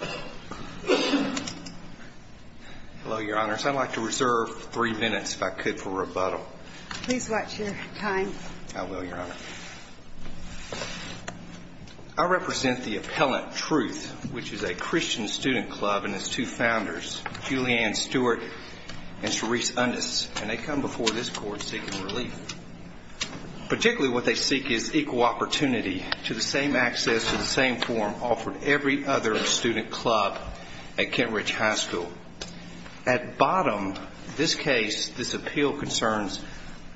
I represent the Appellant Truth, which is a Christian student club and its two founders, Julianne Stewart and Charisse Undis, and they come before this court seeking relief. Particularly what they seek is equal opportunity to the same access to the same form offered every other student club at Kent Ridge High School. At bottom, this case, this appeal concerns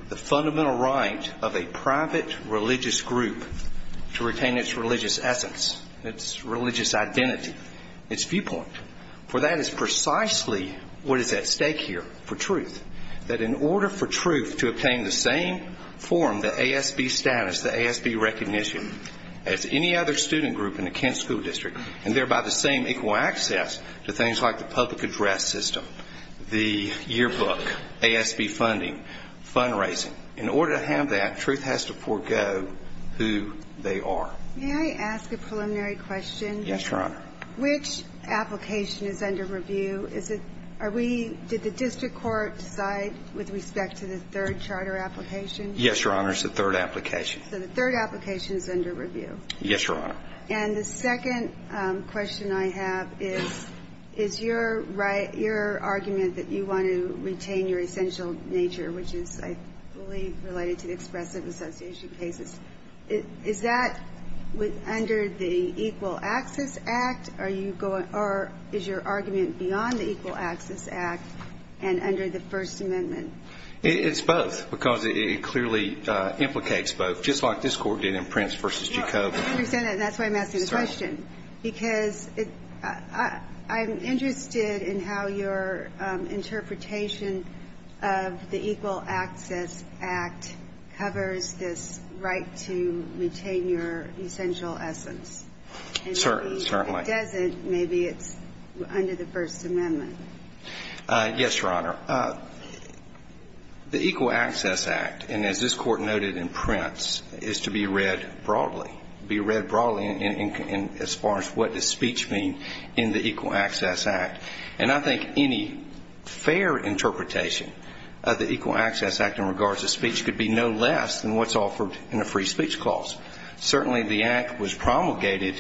the fundamental right of a private religious group to retain its religious essence, its religious identity, its viewpoint. For that is precisely what is at stake here for truth. That in order for truth to obtain the same form, the ASB status, the ASB recognition as any other student group in the Kent School District, and thereby the same equal access to things like the public address system, the yearbook, ASB funding, fundraising. In order to have that, truth has to forego who they are. May I ask a preliminary question? Yes, Your Honor. Which application is under review? Is it, are we, did the district court decide with respect to the third charter application? Yes, Your Honor, it's the third application. So the third application is under review? Yes, Your Honor. And the second question I have is, is your argument that you want to retain your essential nature, which is, I believe, related to the expressive association cases, is that under the Equal Access Act, or is your argument beyond the Equal Access Act and under the First Amendment? It's both, because it clearly implicates both, just like this court did in Prince v. Jacob. I understand that, and that's why I'm asking the question, because I'm interested in how your interpretation of the Equal Access Act covers this right to maintain your essential essence. Certainly. And if it doesn't, maybe it's under the First Amendment. Yes, Your Honor. The Equal Access Act, and as this court noted in Prince, is to be read broadly, be read broadly as far as what does speech mean in the Equal Access Act. And I think any fair interpretation of the Equal Access Act in regards to speech could be no less than what's offered in a free speech clause. Certainly, the Act was promulgated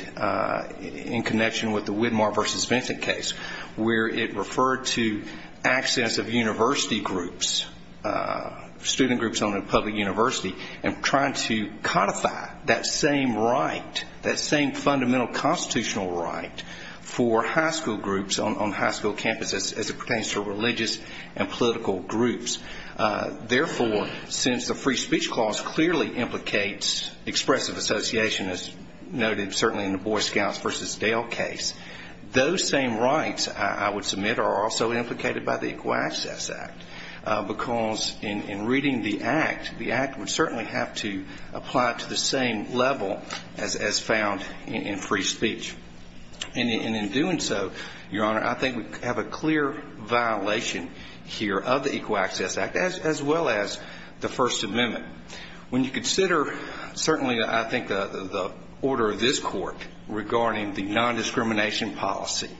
in connection with the Widmar v. Vincent case, where it referred to access of university groups, student groups on a public university, and trying to codify that same right, that same fundamental constitutional right for high school groups on high school campuses as it pertains to religious and political groups. Therefore, since the free speech clause clearly implicates expressive association, as noted certainly in the Boy Scouts v. Dale case, those same rights, I would submit, are also implicated by the Equal Access Act. Because in reading the Act, the Act would certainly have to apply to the same level as found in free speech. And in doing so, Your Honor, I think we have a clear violation here of the Equal Access Act, as well as the First Amendment. When you consider, certainly, I think, the order of this Court regarding the nondiscrimination policy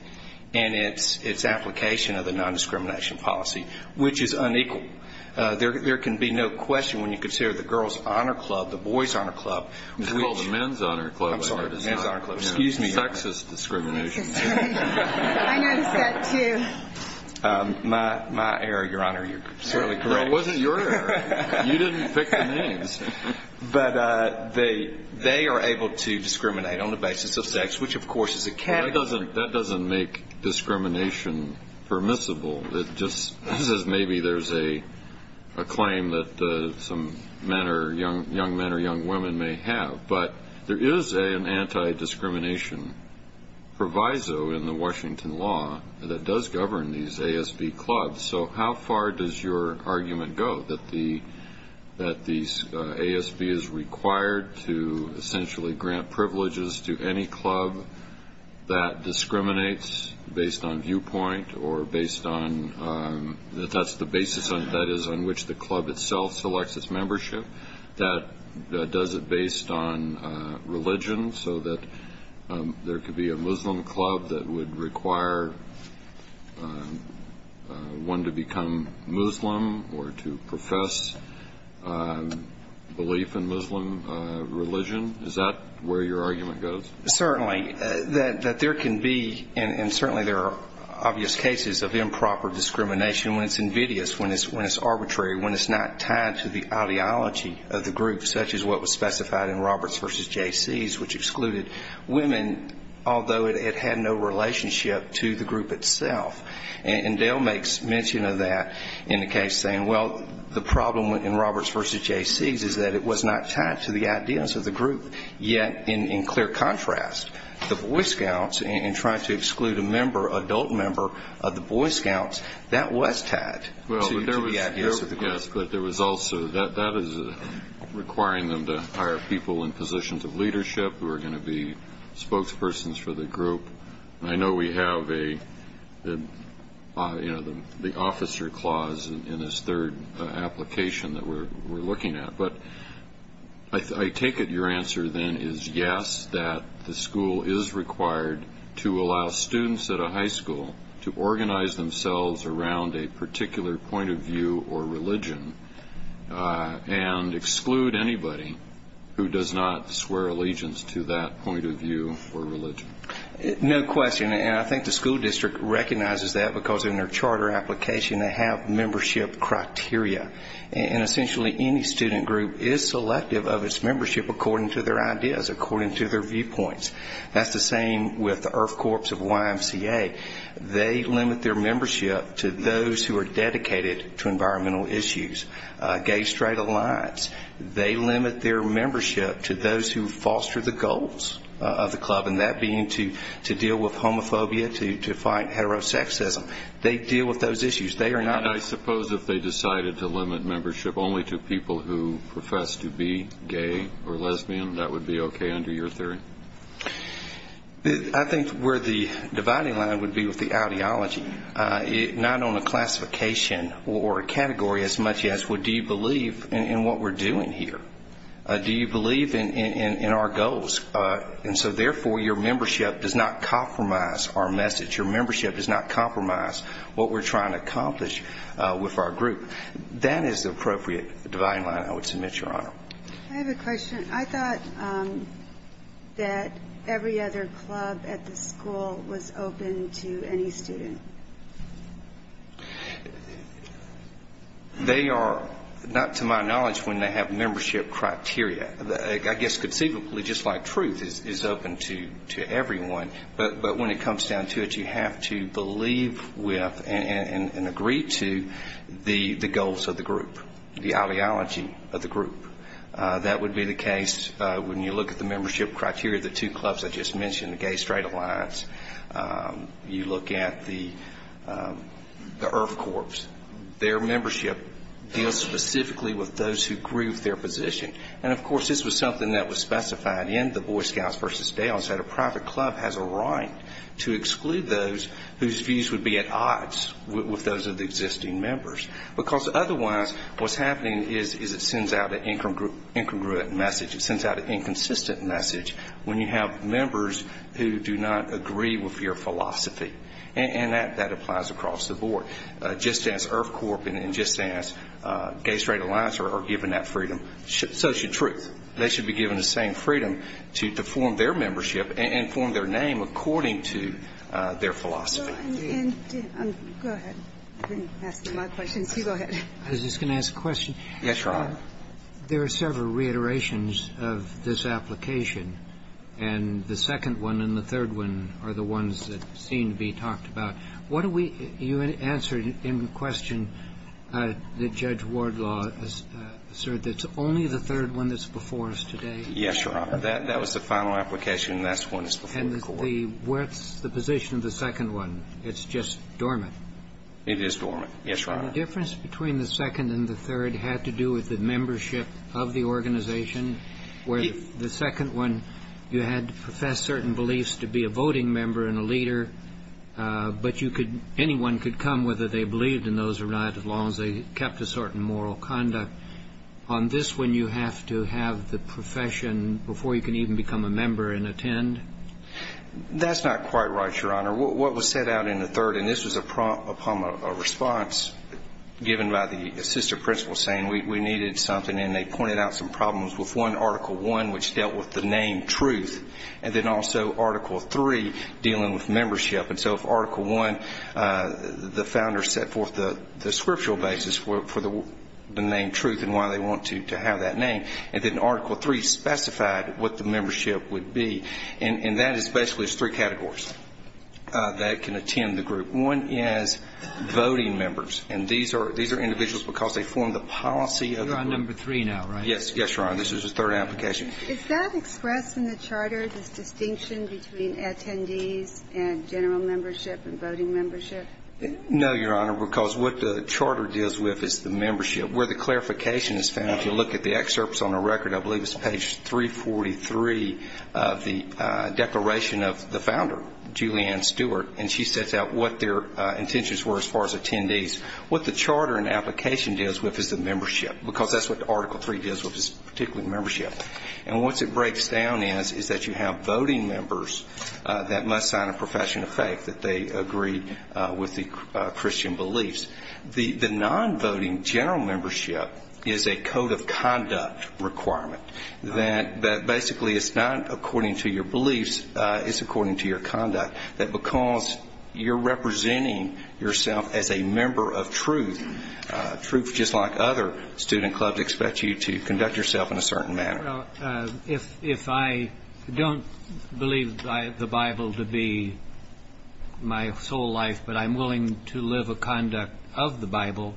and its application of the nondiscrimination policy, which is unequal, there can be no question when you consider the girls' honor club, the boys' honor club, which — It's called the men's honor club. I'm sorry, men's honor club. Excuse me. Sexist discrimination. I noticed that, too. My error, Your Honor, you're certainly correct. It wasn't your error. You didn't pick the names. But they are able to discriminate on the basis of sex, which, of course, is a category. That doesn't make discrimination permissible. It just says maybe there's a claim that some men or — young men or young women may have. But there is an anti-discrimination proviso in the Washington law that does govern these ASB clubs. So how far does your argument go that the — that the ASB is required to essentially grant privileges to any club that discriminates based on viewpoint or based on — that that's the basis on — that is, on which the club itself selects its membership? That does it based on religion so that there could be a Muslim club that would require one to become Muslim or to profess belief in Muslim religion? Is that where your argument goes? Certainly. That there can be — and certainly there are obvious cases of improper discrimination when it's invidious, when it's arbitrary, when it's not tied to the ideology of the group, such as what was specified in Roberts v. J.C.'s, which excluded women, although it had no relationship to the group itself. And Dale makes mention of that in the case, saying, well, the problem in Roberts v. J.C.'s is that it was not tied to the ideas of the group. Yet, in clear contrast, the Boy Scouts, in trying to exclude a member, adult member of the Boy Scouts, that was tied. Well, there was — yes, but there was also — that is requiring them to hire people in positions of leadership who are going to be spokespersons for the group. And I know we have a — you know, the officer clause in this third application that we're looking at. But I take it your answer then is yes, that the school is required to allow students at a high school to organize themselves around a particular point of view or religion and exclude anybody who does not swear allegiance to that point of view or religion. No question. And I think the school district recognizes that because in their charter application they have membership criteria. And essentially any student group is selective of its membership according to their ideas, according to their viewpoints. That's the same with the IRF Corps of YMCA. They limit their membership to those who are dedicated to environmental issues. Gay-Straight Alliance, they limit their membership to those who foster the goals of the club, and that being to deal with homophobia, to fight heterosexism. They deal with those issues. They are not — And I suppose if they decided to limit membership only to people who profess to be gay or lesbian, that would be okay under your theory? I think where the dividing line would be with the ideology. Not on a classification or a category as much as, well, do you believe in what we're doing here? Do you believe in our goals? And so, therefore, your membership does not compromise our message. Your membership does not compromise what we're trying to accomplish with our group. That is the appropriate dividing line I would submit, Your Honor. I have a question. I thought that every other club at the school was open to any student. They are, not to my knowledge, when they have membership criteria. I guess conceivably, just like truth, is open to everyone. But when it comes down to it, you have to believe with and agree to the goals of the group, the ideology of the group. That would be the case when you look at the membership criteria of the two clubs I just mentioned, the Gay-Straight Alliance. You look at the IRF Corps. Their membership deals specifically with those who grieve their position. And, of course, this was something that was specified in the Boy Scouts versus Dales, that a private club has a right to exclude those whose views would be at odds with those of the existing members. Because otherwise, what's happening is it sends out an incongruent message. It sends out an inconsistent message when you have members who do not agree with your philosophy. And that applies across the board. Just as IRF Corps and just as Gay-Straight Alliance are given that freedom, so should truth. They should be given the same freedom to form their membership and form their name according to their philosophy. Go ahead. I didn't ask them my questions. You go ahead. I was just going to ask a question. Yes, Your Honor. There are several reiterations of this application, and the second one and the third one are the ones that seem to be talked about. What do we do? You answered in question that Judge Wardlaw asserted it's only the third one that's before us today. That was the final application, and that's the one that's before the Court. And what's the position of the second one? It's just dormant. It is dormant. Yes, Your Honor. The difference between the second and the third had to do with the membership of the organization, where the second one you had to profess certain beliefs to be a voting member and a leader, but anyone could come whether they believed in those or not as long as they kept a certain moral conduct. On this one, you have to have the profession before you can even become a member and attend? That's not quite right, Your Honor. What was set out in the third, and this was a response given by the assistant principal, saying we needed something, and they pointed out some problems with one, Article I, which dealt with the name truth, and then also Article III dealing with membership. And so if Article I, the founders set forth the scriptural basis for the name truth and why they want to have that name, and then Article III specified what the membership would be, and that is basically three categories that can attend the group. One is voting members, and these are individuals because they form the policy of the group. You're on number three now, right? Yes, Your Honor. This is the third application. Is that expressed in the charter, this distinction between attendees and general membership and voting membership? No, Your Honor, because what the charter deals with is the membership. Where the clarification is found, if you look at the excerpts on the record, I believe it's page 343 of the declaration of the founder, Julianne Stewart, and she sets out what their intentions were as far as attendees. What the charter and application deals with is the membership, because that's what Article III deals with, is particularly membership. And what it breaks down as is that you have voting members that must sign a profession of faith, that they agree with the Christian beliefs. The non-voting general membership is a code of conduct requirement, that basically it's not according to your beliefs, it's according to your conduct, that because you're representing yourself as a member of truth, truth just like other, other student clubs expect you to conduct yourself in a certain manner. Well, if I don't believe the Bible to be my soul life, but I'm willing to live a conduct of the Bible,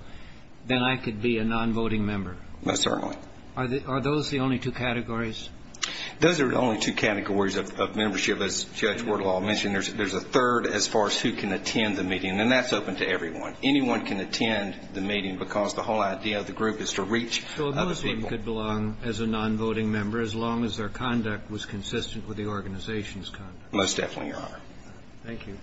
then I could be a non-voting member. Most certainly. Are those the only two categories? Those are the only two categories of membership. As Judge Wardlaw mentioned, there's a third as far as who can attend the meeting, and that's open to everyone. Anyone can attend the meeting, because the whole idea of the group is to reach other people. So a Muslim could belong as a non-voting member, as long as their conduct was consistent with the organization's conduct. Most definitely, Your Honor. Thank you.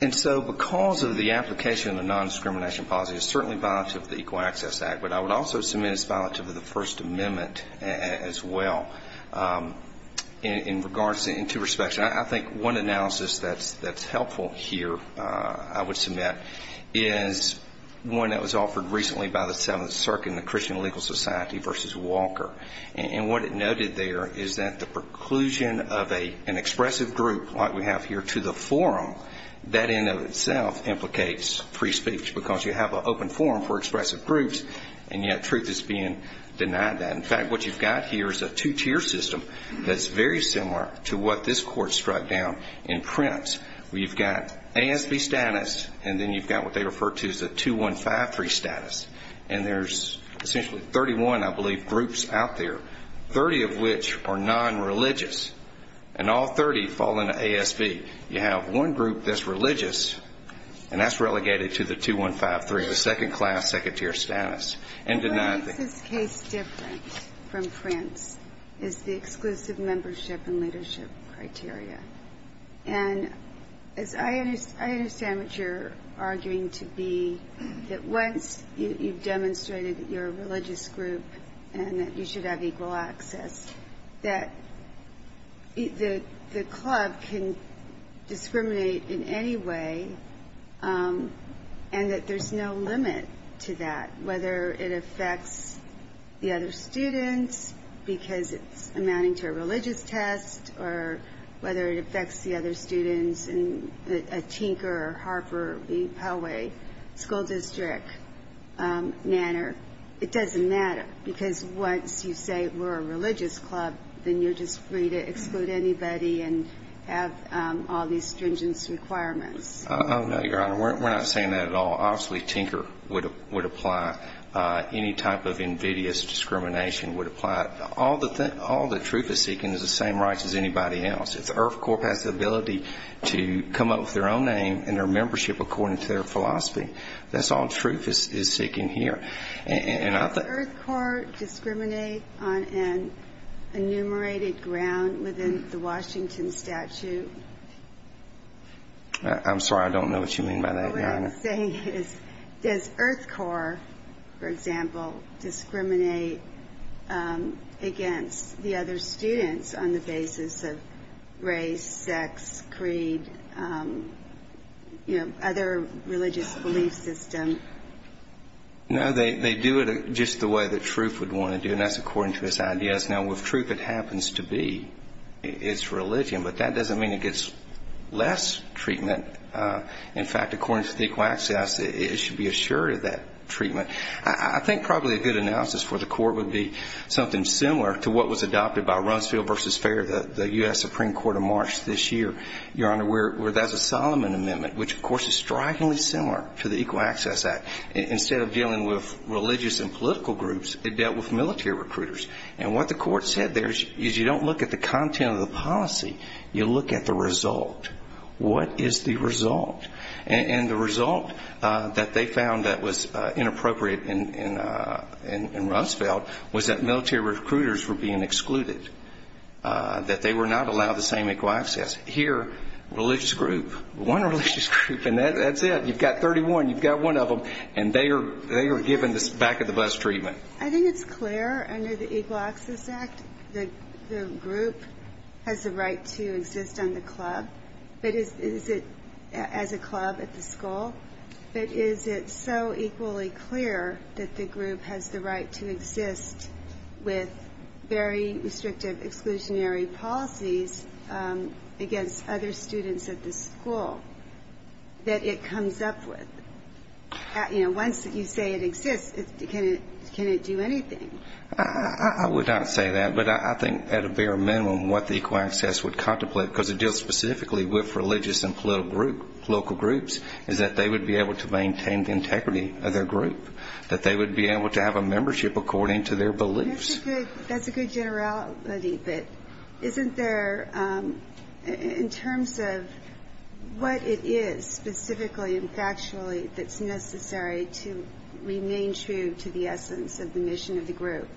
And so because of the application of the nondiscrimination policy, it's certainly violative of the Equal Access Act, but I would also submit it's violative of the First Amendment as well. In two respects, I think one analysis that's helpful here, I would submit, is one that was offered recently by the Seventh Circuit in the Christian Legal Society versus Walker. And what it noted there is that the preclusion of an expressive group like we have here to the forum, that in and of itself implicates free speech, because you have an open forum for expressive groups, and yet truth is being denied that. In fact, what you've got here is a two-tier system that's very similar to what this Court struck down in Prince, where you've got ASV status, and then you've got what they refer to as a 2153 status. And there's essentially 31, I believe, groups out there, 30 of which are non-religious, and all 30 fall into ASV. You have one group that's religious, and that's relegated to the 2153, the second-class, second-tier status, and denied. What makes this case different from Prince is the exclusive membership and leadership criteria. And as I understand what you're arguing to be, that once you've demonstrated that you're a religious group and that you should have equal access, that the club can discriminate in any way and that there's no limit to that, whether it affects the other students because it's amounting to a religious test or whether it affects the other students in a Tinker, Harper, Pellway school district manner. It doesn't matter, because once you say we're a religious club, then you're just free to exclude anybody and have all these stringent requirements. Oh, no, Your Honor. We're not saying that at all. Obviously, Tinker would apply. Any type of invidious discrimination would apply. All the truth is seeking is the same rights as anybody else. If the IRF Corps has the ability to come up with their own name and their membership according to their philosophy, that's all truth is seeking here. Does the IRF Corps discriminate on an enumerated ground within the Washington statute? I'm sorry. I don't know what you mean by that, Your Honor. What I'm saying is, does IRF Corps, for example, discriminate against the other students on the basis of race, sex, creed, you know, other religious belief system? No, they do it just the way that truth would want to do, and that's according to its ideas. Now, with truth, it happens to be its religion, but that doesn't mean it gets less treatment. In fact, according to the equal access, it should be assured of that treatment. I think probably a good analysis for the Court would be something similar to what was adopted by Rumsfeld v. Fair, the U.S. Supreme Court of March this year. Your Honor, where that's a Solomon Amendment, which, of course, is strikingly similar to the Equal Access Act. Instead of dealing with religious and political groups, it dealt with military recruiters. And what the Court said there is you don't look at the content of the policy, you look at the result. What is the result? And the result that they found that was inappropriate in Rumsfeld was that military recruiters were being excluded, that they were not allowed the same equal access. Here, religious group, one religious group, and that's it. You've got 31, you've got one of them, and they are given the back-of-the-bus treatment. I think it's clear under the Equal Access Act that the group has the right to exist on the club, but is it as a club at the school, but is it so equally clear that the group has the right to exist with very restrictive exclusionary policies against other students at the school that it comes up with? You know, once you say it exists, can it do anything? I would not say that, but I think at a bare minimum what the Equal Access would contemplate, because it deals specifically with religious and political groups, is that they would be able to maintain the integrity of their group, that they would be able to have a membership according to their beliefs. That's a good generality, but isn't there, in terms of what it is, specifically and factually, that's necessary to remain true to the essence of the mission of the group,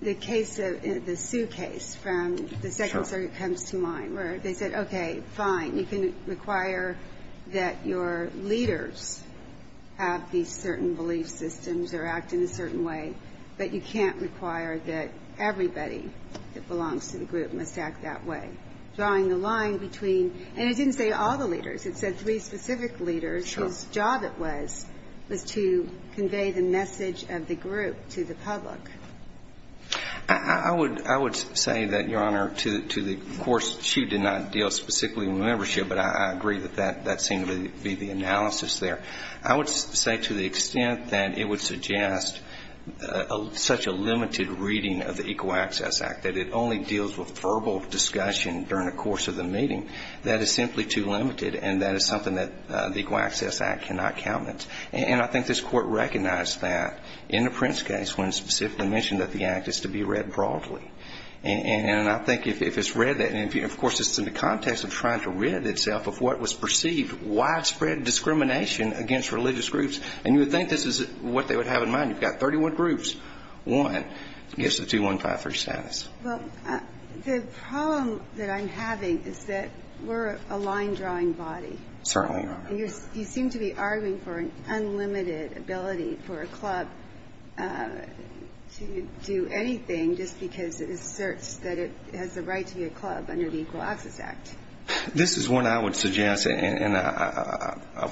the case of the Sue case from the Second Circuit comes to mind, where they said, okay, fine, you can require that your leaders have these certain belief systems or act in a certain way, but you can't require that everybody that belongs to the group must act that way, drawing the line between – and it didn't say all the leaders. It said three specific leaders. Sure. Whose job it was, was to convey the message of the group to the public. I would say that, Your Honor, to the – of course, Sue did not deal specifically with membership, but I agree that that seemed to be the analysis there. I would say to the extent that it would suggest such a limited reading of the Equal Access Act, that it only deals with verbal discussion during the course of the meeting, that is simply too limited, and that is something that the Equal Access Act cannot countenance. And I think this Court recognized that in the Prince case when it specifically mentioned that the act is to be read broadly. And I think if it's read that – and, of course, it's in the context of trying to rid itself of what was perceived widespread discrimination against religious groups. And you would think this is what they would have in mind. You've got 31 groups. One gives the 2153 status. Well, the problem that I'm having is that we're a line-drawing body. Certainly, Your Honor. You seem to be arguing for an unlimited ability for a club to do anything just because it asserts that it has the right to be a club under the Equal Access Act. This is one I would suggest, and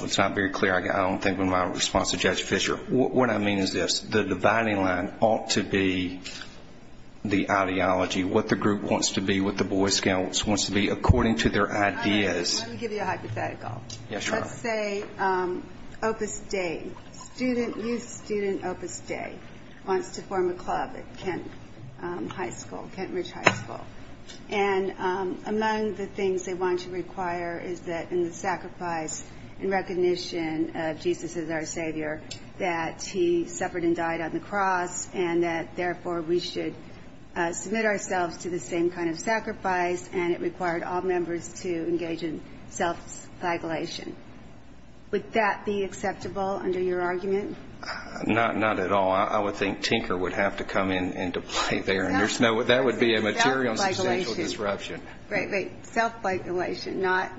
it's not very clear. I don't think my response to Judge Fischer. What I mean is this. The dividing line ought to be the ideology, what the group wants to be, what the boy scout wants to be, according to their ideas. Let me give you a hypothetical. Yes, Your Honor. Let's say Opus Dei, student, youth student Opus Dei wants to form a club at Kent High School, Kent Ridge High School. And among the things they want to require is that in the sacrifice and recognition of Jesus as our Savior, that he suffered and died on the cross, and that, therefore, we should submit ourselves to the same kind of sacrifice, and it required all members to engage in self-flagellation. Would that be acceptable under your argument? Not at all. I would think Tinker would have to come in and play there. That would be a material substantial disruption. Great. Self-flagellation, not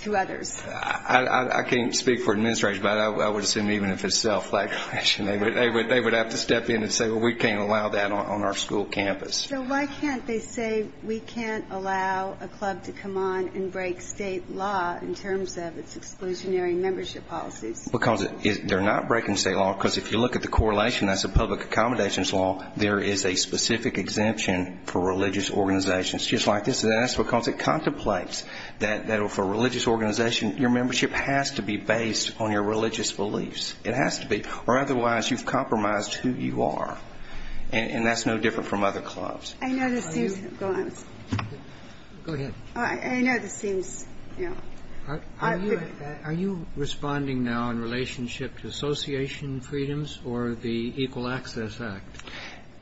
to others. I can't speak for administration, but I would assume even if it's self-flagellation, they would have to step in and say, well, we can't allow that on our school campus. So why can't they say we can't allow a club to come on and break state law in terms of its exclusionary membership policies? Because they're not breaking state law. Because if you look at the correlation, that's a public accommodations law. There is a specific exemption for religious organizations just like this. And that's because it contemplates that for a religious organization, your membership has to be based on your religious beliefs. It has to be. Or otherwise, you've compromised who you are. And that's no different from other clubs. I know this seems to go on. Go ahead. I know this seems, you know. I agree with that. Are you responding now in relationship to association freedoms or the Equal Access Act?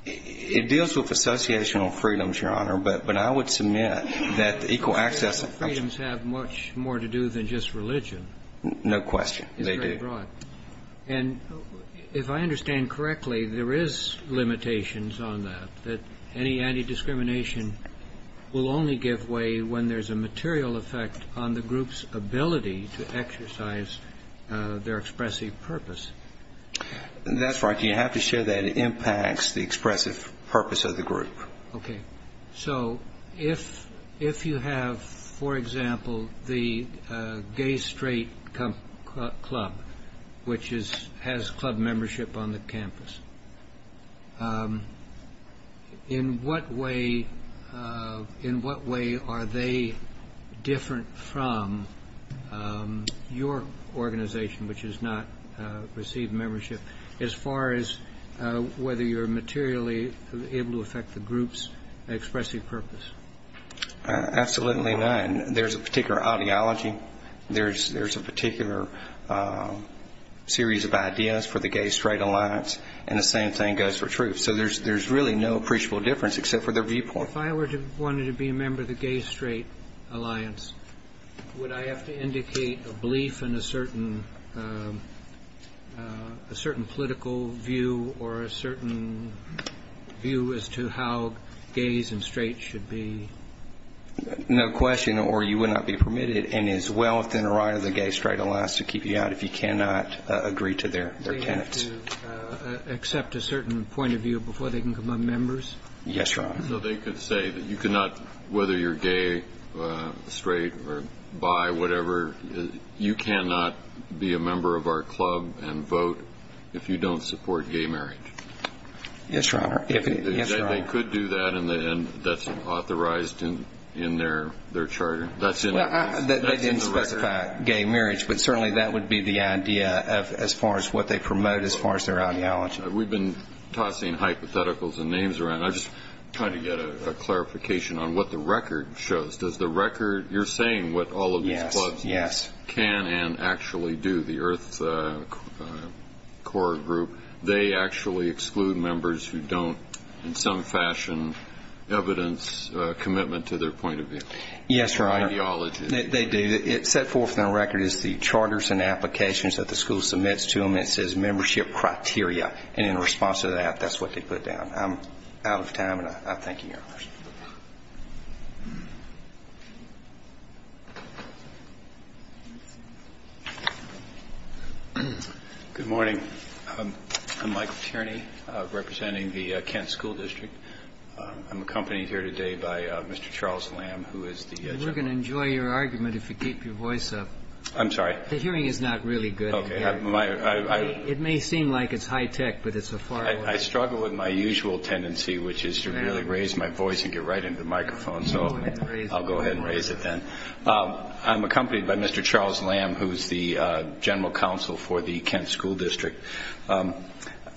It deals with associational freedoms, Your Honor. But I would submit that equal access. Freedoms have much more to do than just religion. No question. They do. It's very broad. And if I understand correctly, there is limitations on that, that any anti-discrimination will only give way when there's a material effect on the group's ability to exercise their expressive purpose. That's right. You have to share that it impacts the expressive purpose of the group. Okay. So if you have, for example, the Gay Straight Club, which has club membership on the campus, in what way are they different from your organization, which has not received membership, as far as whether you're materially able to affect the group's expressive purpose? Absolutely none. There's a particular ideology. There's a particular series of ideas for the Gay Straight Alliance. And the same thing goes for truth. So there's really no appreciable difference except for their viewpoint. If I were to want to be a member of the Gay Straight Alliance, would I have to indicate a belief in a certain political view or a certain view as to how gays and straights should be? No question. Or you would not be permitted in as well within the right of the Gay Straight Alliance to keep you out if you cannot agree to their tenets. Do they have to accept a certain point of view before they can become members? Yes, Your Honor. So they could say that you cannot, whether you're gay, straight, or bi, whatever, you cannot be a member of our club and vote if you don't support gay marriage. Yes, Your Honor. They could do that, and that's authorized in their charter. That's in the record. They didn't specify gay marriage, but certainly that would be the idea as far as what they promote as far as their ideology. We've been tossing hypotheticals and names around. I'm just trying to get a clarification on what the record shows. Does the record you're saying what all of these clubs can and actually do, the Earth Corps group, they actually exclude members who don't in some fashion evidence commitment to their point of view? Yes, Your Honor. Ideology. They do. It's set forth in the record as the charters and applications that the school submits to them. And it says membership criteria, and in response to that, that's what they put down. I'm out of time, and I thank you, Your Honor. Good morning. I'm Michael Tierney, representing the Kent School District. I'm accompanied here today by Mr. Charles Lamb, who is the judge. We're going to enjoy your argument if you keep your voice up. I'm sorry. The hearing is not really good. It may seem like it's high-tech, but it's a far-off. I struggle with my usual tendency, which is to really raise my voice and get right into the microphone. So I'll go ahead and raise it then. I'm accompanied by Mr. Charles Lamb, who is the general counsel for the Kent School District.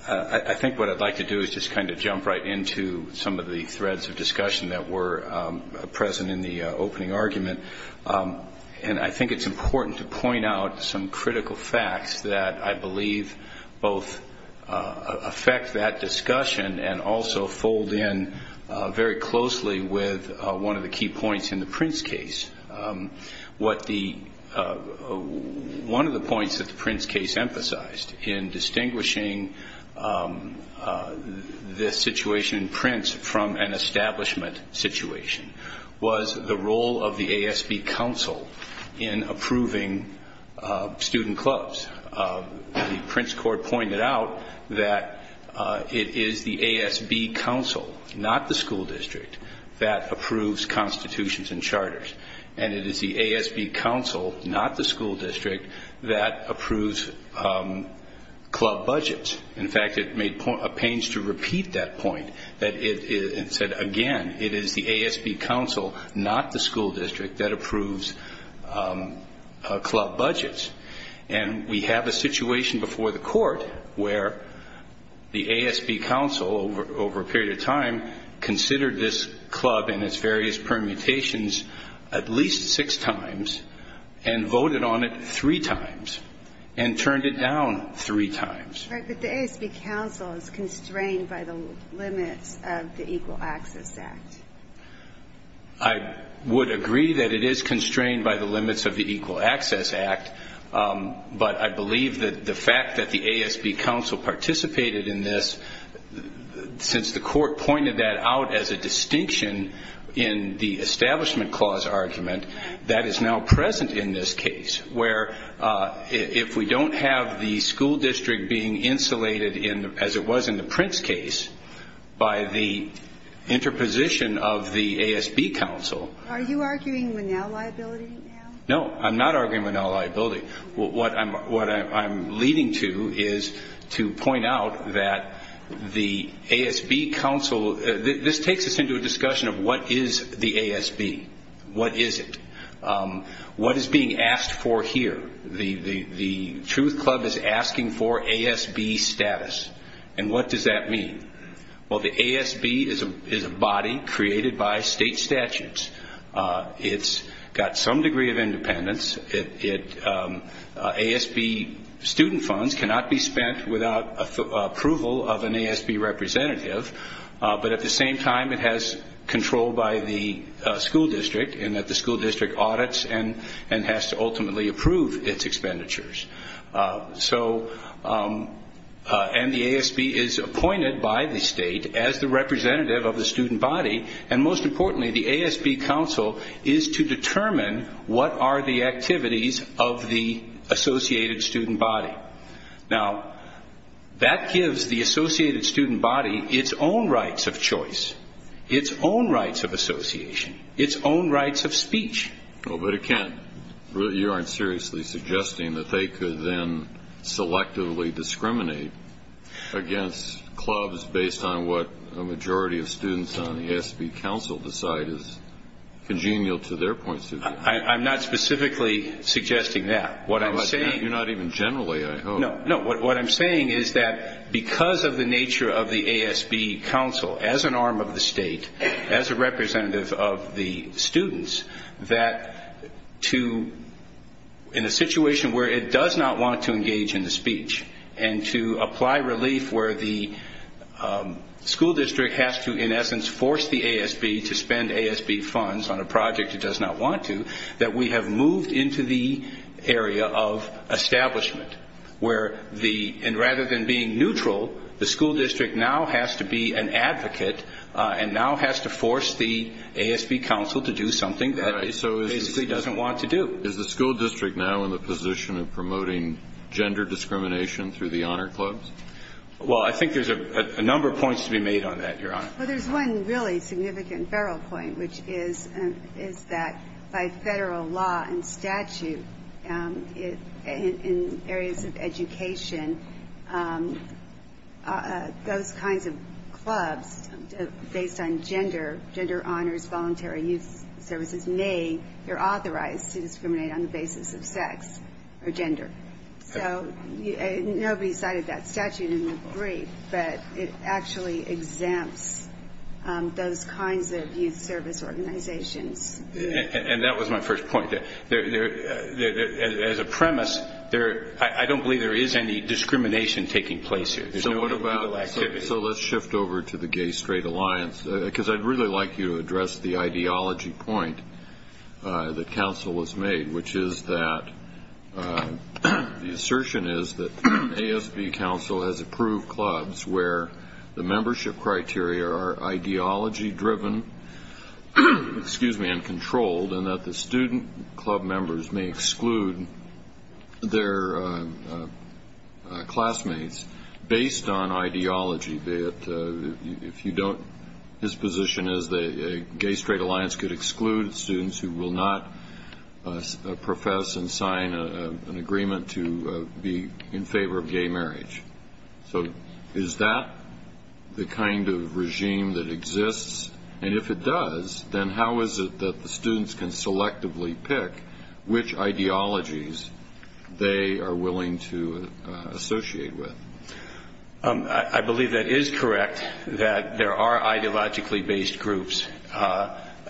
I think what I'd like to do is just kind of jump right into some of the threads of discussion that were present in the opening argument. And I think it's important to point out some critical facts that I believe both affect that discussion and also fold in very closely with one of the key points in the Prince case. One of the points that the Prince case emphasized in distinguishing this situation in Prince from an establishment situation was the role of the ASB counsel in approving student clubs. The Prince court pointed out that it is the ASB counsel, not the school district, that approves constitutions and charters. And it is the ASB counsel, not the school district, that approves club budgets. In fact, it pains to repeat that point. It said, again, it is the ASB counsel, not the school district, that approves club budgets. And we have a situation before the court where the ASB counsel, over a period of time, considered this club and its various permutations at least six times and voted on it three times and turned it down three times. Right, but the ASB counsel is constrained by the limits of the Equal Access Act. I would agree that it is constrained by the limits of the Equal Access Act, but I believe that the fact that the ASB counsel participated in this, since the court pointed that out as a distinction in the Establishment Clause argument, that is now present in this case, where if we don't have the school district being insulated, as it was in the Prince case, by the interposition of the ASB counsel. Are you arguing with now liability now? No, I'm not arguing with now liability. What I'm leading to is to point out that the ASB counsel – this takes us into a discussion of what is the ASB. What is it? What is being asked for here? The Truth Club is asking for ASB status, and what does that mean? Well, the ASB is a body created by state statutes. It's got some degree of independence. ASB student funds cannot be spent without approval of an ASB representative, but at the same time it has control by the school district, and that the school district audits and has to ultimately approve its expenditures. And the ASB is appointed by the state as the representative of the student body, and most importantly the ASB counsel is to determine what are the activities of the associated student body. Now, that gives the associated student body its own rights of choice, its own rights of association, its own rights of speech. But you aren't seriously suggesting that they could then selectively discriminate against clubs based on what a majority of students on the ASB counsel decide is congenial to their points of view. I'm not specifically suggesting that. You're not even generally, I hope. No, what I'm saying is that because of the nature of the ASB counsel as an arm of the state, as a representative of the students, that in a situation where it does not want to engage in the speech and to apply relief where the school district has to, in essence, force the ASB to spend ASB funds on a project it does not want to, that we have moved into the area of establishment where the, and rather than being neutral, the school district now has to be an advocate and now has to force the ASB counsel to do something that it basically doesn't want to do. Is the school district now in the position of promoting gender discrimination through the honor clubs? Well, I think there's a number of points to be made on that, Your Honor. Well, there's one really significant feral point, which is that by federal law and statute in areas of education, those kinds of clubs based on gender, gender honors, voluntary youth services, may be authorized to discriminate on the basis of sex or gender. So nobody cited that statute in the brief, but it actually exempts those kinds of youth service organizations. And that was my first point. As a premise, I don't believe there is any discrimination taking place here. So let's shift over to the Gay-Straight Alliance, because I'd really like you to address the ideology point that counsel has made, which is that the assertion is that ASB counsel has approved clubs where the membership criteria are ideology-driven and controlled and that the student club members may exclude their classmates based on ideology. If you don't, his position is the Gay-Straight Alliance could exclude students who will not profess and sign an agreement to be in favor of gay marriage. So is that the kind of regime that exists? And if it does, then how is it that the students can selectively pick which ideologies they are willing to associate with? I believe that is correct, that there are ideologically-based groups.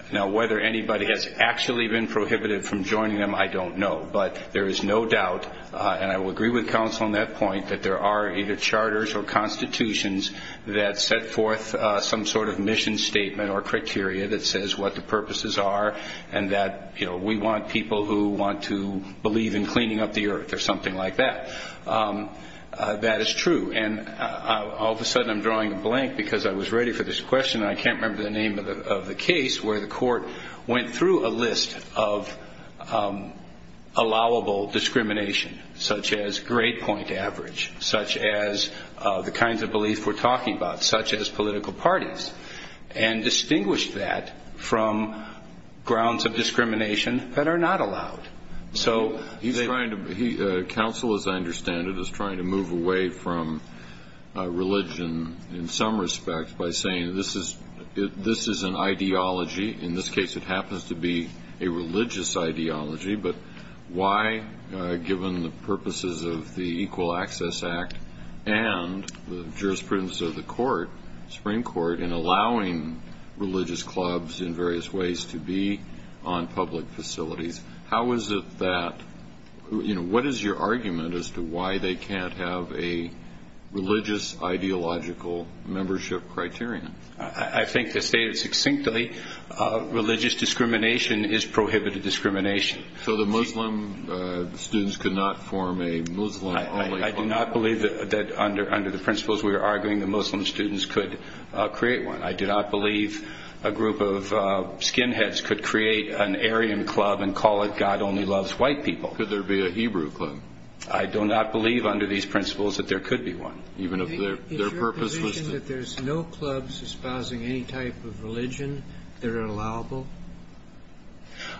Now, whether anybody has actually been prohibited from joining them, I don't know. But there is no doubt, and I will agree with counsel on that point, that there are either charters or constitutions that set forth some sort of mission statement or criteria that says what the purposes are and that we want people who want to believe in cleaning up the earth or something like that. That is true. And all of a sudden I'm drawing a blank because I was ready for this question and I can't remember the name of the case where the court went through a list of allowable discrimination, such as grade point average, such as the kinds of beliefs we're talking about, such as political parties, and distinguished that from grounds of discrimination that are not allowed. Counsel, as I understand it, is trying to move away from religion in some respect by saying this is an ideology. In this case it happens to be a religious ideology, but why, given the purposes of the Equal Access Act and the jurisprudence of the Supreme Court in allowing religious clubs in various ways to be on public facilities, how is it that, you know, what is your argument as to why they can't have a religious ideological membership criterion? I think to state it succinctly, religious discrimination is prohibited discrimination. So the Muslim students could not form a Muslim-only club? I do not believe that under the principles we are arguing the Muslim students could create one. I do not believe a group of skinheads could create an Aryan club and call it God Only Loves White People. Could there be a Hebrew club? I do not believe under these principles that there could be one, even if their purpose was to... Is your position that there's no clubs espousing any type of religion that are allowable?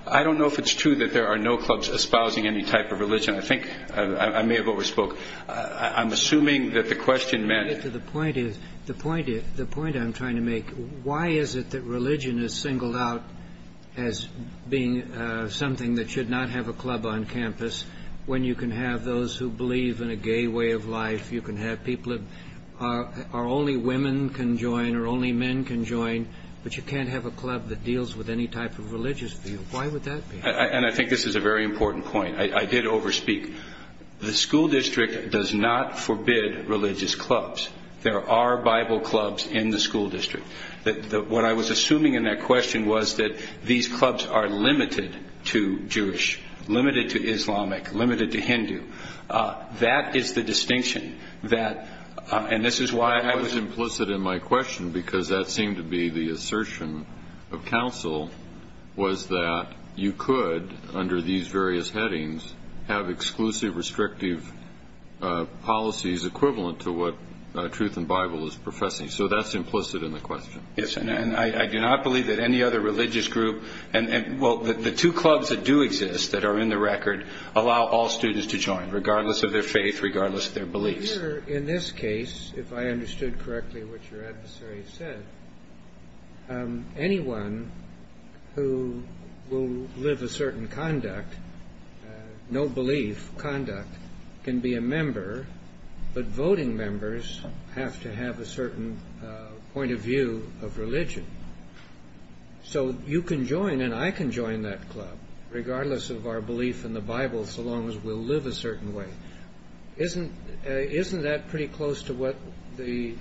I don't know if it's true that there are no clubs espousing any type of religion. I think I may have overspoken. I'm assuming that the question meant... The point I'm trying to make, why is it that religion is singled out as being something that should not have a club on campus when you can have those who believe in a gay way of life? You can have people that are only women can join or only men can join, but you can't have a club that deals with any type of religious view. Why would that be? And I think this is a very important point. I did overspeak. The school district does not forbid religious clubs. There are Bible clubs in the school district. What I was assuming in that question was that these clubs are limited to Jewish, limited to Islamic, limited to Hindu. That is the distinction that... And this is why I was... I was implicit in my question because that seemed to be the assertion of counsel was that you could, under these various headings, have exclusive restrictive policies equivalent to what Truth in Bible is professing. So that's implicit in the question. Yes, and I do not believe that any other religious group... Well, the two clubs that do exist that are in the record allow all students to join, regardless of their faith, regardless of their beliefs. Here, in this case, if I understood correctly what your adversary said, anyone who will live a certain conduct, no belief conduct, can be a member, but voting members have to have a certain point of view of religion. So you can join and I can join that club, regardless of our belief in the Bible, so long as we'll live a certain way. Isn't that pretty close to what the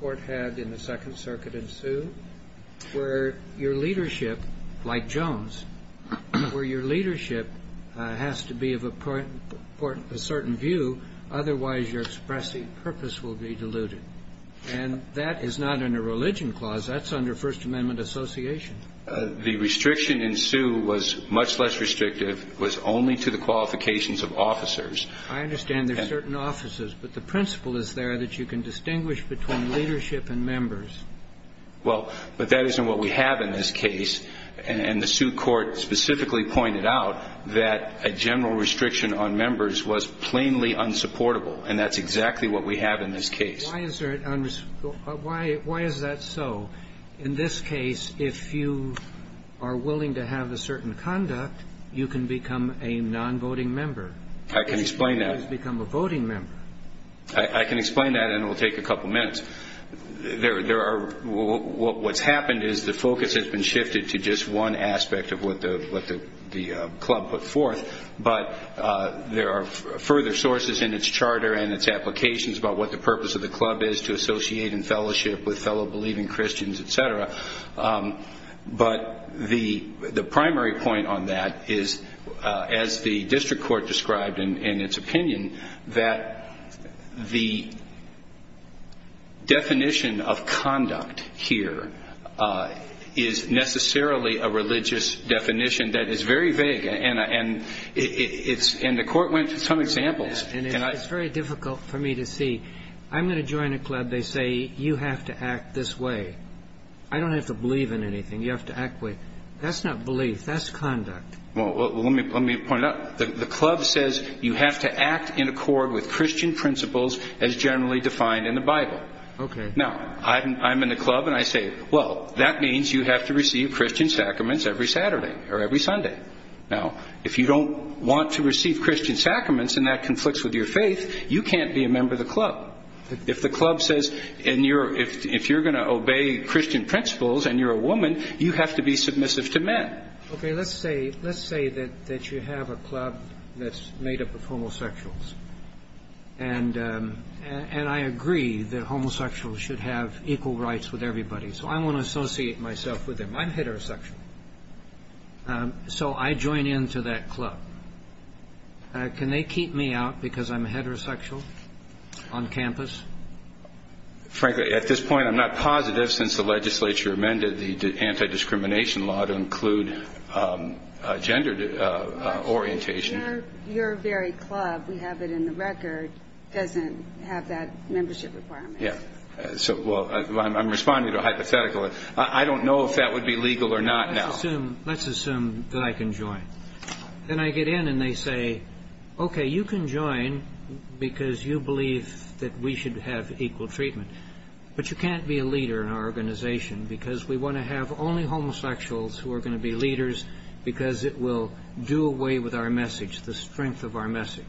court had in the Second Circuit in Sioux, where your leadership, like Jones, where your leadership has to be of a certain view, otherwise your expressing purpose will be diluted? And that is not under a religion clause. That's under First Amendment association. The restriction in Sioux was much less restrictive. It was only to the qualifications of officers. I understand there are certain officers, but the principle is there that you can distinguish between leadership and members. Well, but that isn't what we have in this case, and the Sioux court specifically pointed out that a general restriction on members was plainly unsupportable, and that's exactly what we have in this case. Why is that so? In this case, if you are willing to have a certain conduct, you can become a non-voting member. I can explain that. You can become a voting member. I can explain that, and it will take a couple minutes. What's happened is the focus has been shifted to just one aspect of what the club put forth, but there are further sources in its charter and its applications about what the purpose of the club is to associate in fellowship with fellow believing Christians, et cetera. But the primary point on that is, as the district court described in its opinion, that the definition of conduct here is necessarily a religious definition that is very vague, and the court went to some examples. Yes, and it's very difficult for me to see. I'm going to join a club. They say you have to act this way. I don't have to believe in anything. You have to act the way. That's not belief. That's conduct. Well, let me point it out. The club says you have to act in accord with Christian principles as generally defined in the Bible. Okay. Now, I'm in the club, and I say, well, that means you have to receive Christian sacraments every Saturday or every Sunday. Now, if you don't want to receive Christian sacraments and that conflicts with your faith, you can't be a member of the club. If the club says if you're going to obey Christian principles and you're a woman, you have to be submissive to men. Okay. Let's say that you have a club that's made up of homosexuals, and I agree that homosexuals should have equal rights with everybody, so I want to associate myself with them. I'm heterosexual. So I join into that club. Can they keep me out because I'm heterosexual on campus? Frankly, at this point, I'm not positive since the legislature amended the anti-discrimination law to include gender orientation. Your very club, we have it in the record, doesn't have that membership requirement. Yeah. Well, I'm responding to a hypothetical. I don't know if that would be legal or not now. Let's assume that I can join. Then I get in and they say, okay, you can join because you believe that we should have equal treatment, but you can't be a leader in our organization because we want to have only homosexuals who are going to be leaders because it will do away with our message, the strength of our message.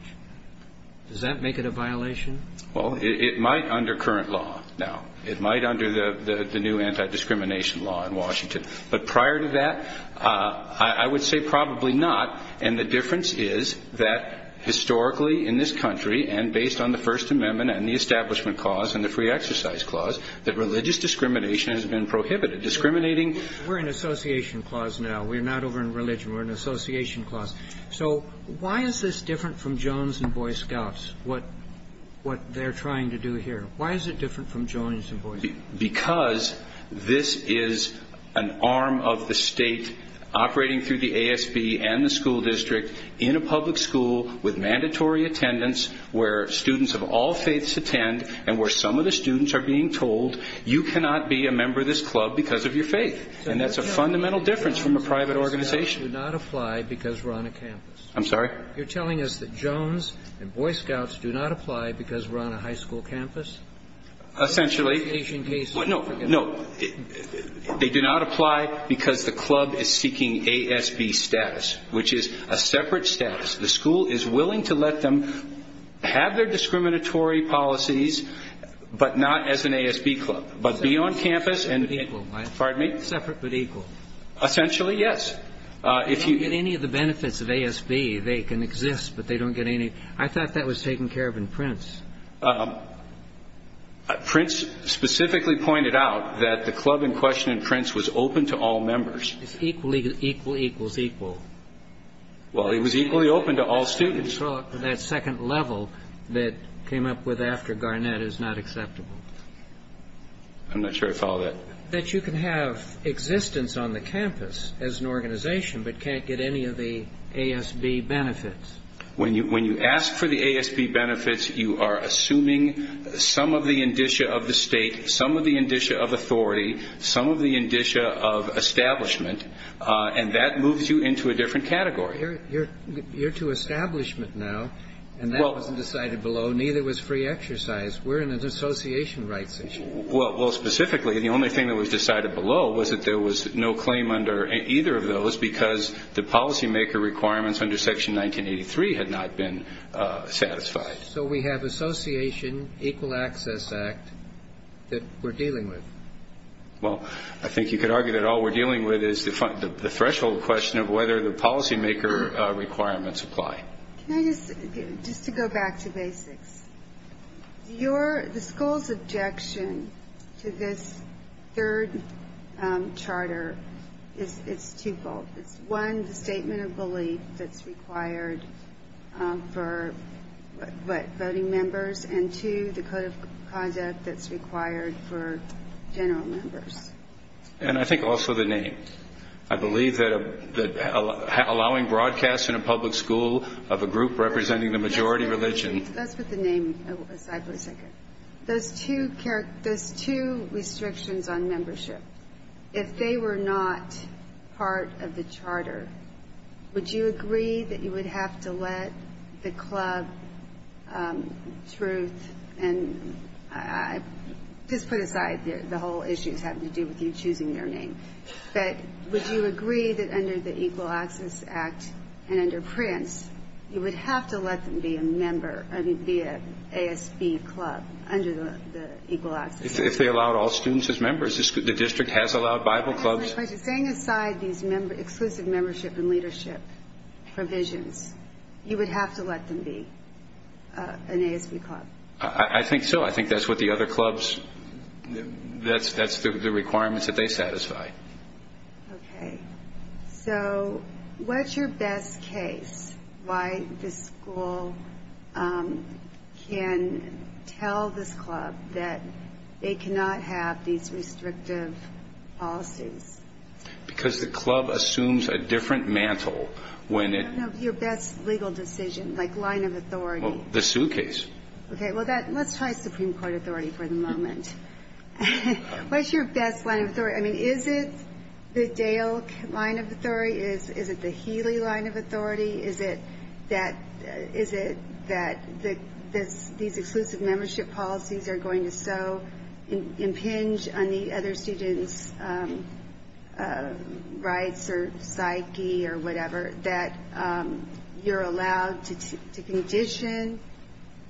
Does that make it a violation? Well, it might under current law now. It might under the new anti-discrimination law in Washington. But prior to that, I would say probably not, and the difference is that historically in this country and based on the First Amendment and the Establishment Clause and the Free Exercise Clause that religious discrimination has been prohibited. Discriminating. We're in association clause now. We're not over in religion. We're in association clause. So why is this different from Jones and Boy Scouts, what they're trying to do here? Why is it different from Jones and Boy Scouts? Because this is an arm of the state operating through the ASB and the school district in a public school with mandatory attendance where students of all faiths attend and where some of the students are being told you cannot be a member of this club because of your faith, and that's a fundamental difference from a private organization. So you're telling me that Boy Scouts do not apply because we're on a campus? I'm sorry? You're telling us that Jones and Boy Scouts do not apply because we're on a high school campus? Essentially. Association case. No. No. They do not apply because the club is seeking ASB status, which is a separate status. The school is willing to let them have their discriminatory policies, but not as an ASB club, but be on campus and be, pardon me? Separate but equal. Essentially, yes. They don't get any of the benefits of ASB. They can exist, but they don't get any. I thought that was taken care of in Prince. Prince specifically pointed out that the club in question in Prince was open to all members. It's equal, equal, equal, equal. Well, it was equally open to all students. That second level that came up with after Garnett is not acceptable. I'm not sure I follow that. That you can have existence on the campus as an organization but can't get any of the ASB benefits. When you ask for the ASB benefits, you are assuming some of the indicia of the state, some of the indicia of authority, some of the indicia of establishment, and that moves you into a different category. You're to establishment now, and that wasn't decided below. Neither was free exercise. We're in an association rights issue. Well, specifically, the only thing that was decided below was that there was no claim under either of those because the policymaker requirements under Section 1983 had not been satisfied. So we have association, Equal Access Act that we're dealing with. Well, I think you could argue that all we're dealing with is the threshold question of whether the policymaker requirements apply. Just to go back to basics, the school's objection to this third charter is twofold. It's, one, the statement of belief that's required for voting members, and, two, the code of conduct that's required for general members. And I think also the name. I believe that allowing broadcast in a public school of a group representing the majority religion. Let's put the name aside for a second. Those two restrictions on membership, if they were not part of the charter, would you agree that you would have to let the club, Truth, and just put aside the whole issue having to do with you choosing their name, that would you agree that under the Equal Access Act and under Prince, you would have to let them be a member, be an ASB club under the Equal Access Act? If they allowed all students as members. The district has allowed Bible clubs. That's my question. Setting aside these exclusive membership and leadership provisions, you would have to let them be an ASB club? I think so. I think that's what the other clubs, that's the requirements that they satisfy. Okay. So what's your best case why the school can tell this club that they cannot have these restrictive policies? Because the club assumes a different mantle when it. No, no, your best legal decision, like line of authority. The Sue case. Okay. Well, let's try Supreme Court authority for the moment. What's your best line of authority? I mean, is it the Dale line of authority? Is it the Healy line of authority? Is it that these exclusive membership policies are going to so impinge on the other student's rights or psyche or whatever that you're allowed to condition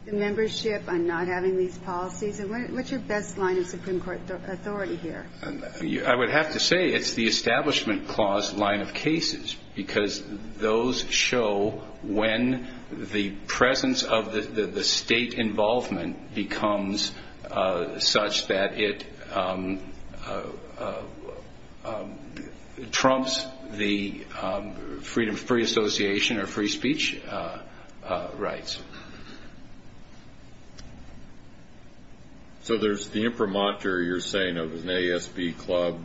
the membership on not having these policies? And what's your best line of Supreme Court authority here? I would have to say it's the Establishment Clause line of cases, because those show when the presence of the state involvement becomes such that it trumps the free association or free speech rights. So there's the imprimatur you're saying of an ASB club,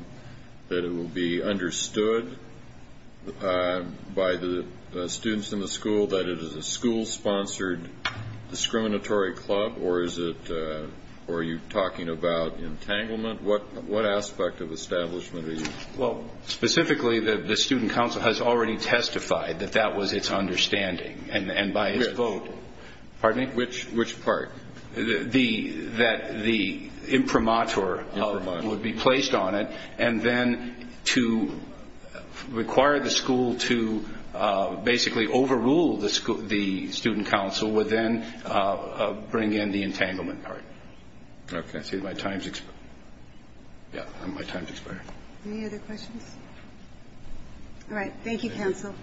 that it will be understood by the students in the school that it is a school-sponsored discriminatory club, or are you talking about entanglement? What aspect of establishment are you talking about? Well, specifically, the student council has already testified that that was its understanding, and by its vote. Pardon me? Which part? That the imprimatur would be placed on it, and then to require the school to basically overrule the student council would then bring in the entanglement part. Okay. Yeah, my time's expired. Any other questions? All right. Thank you, counsel.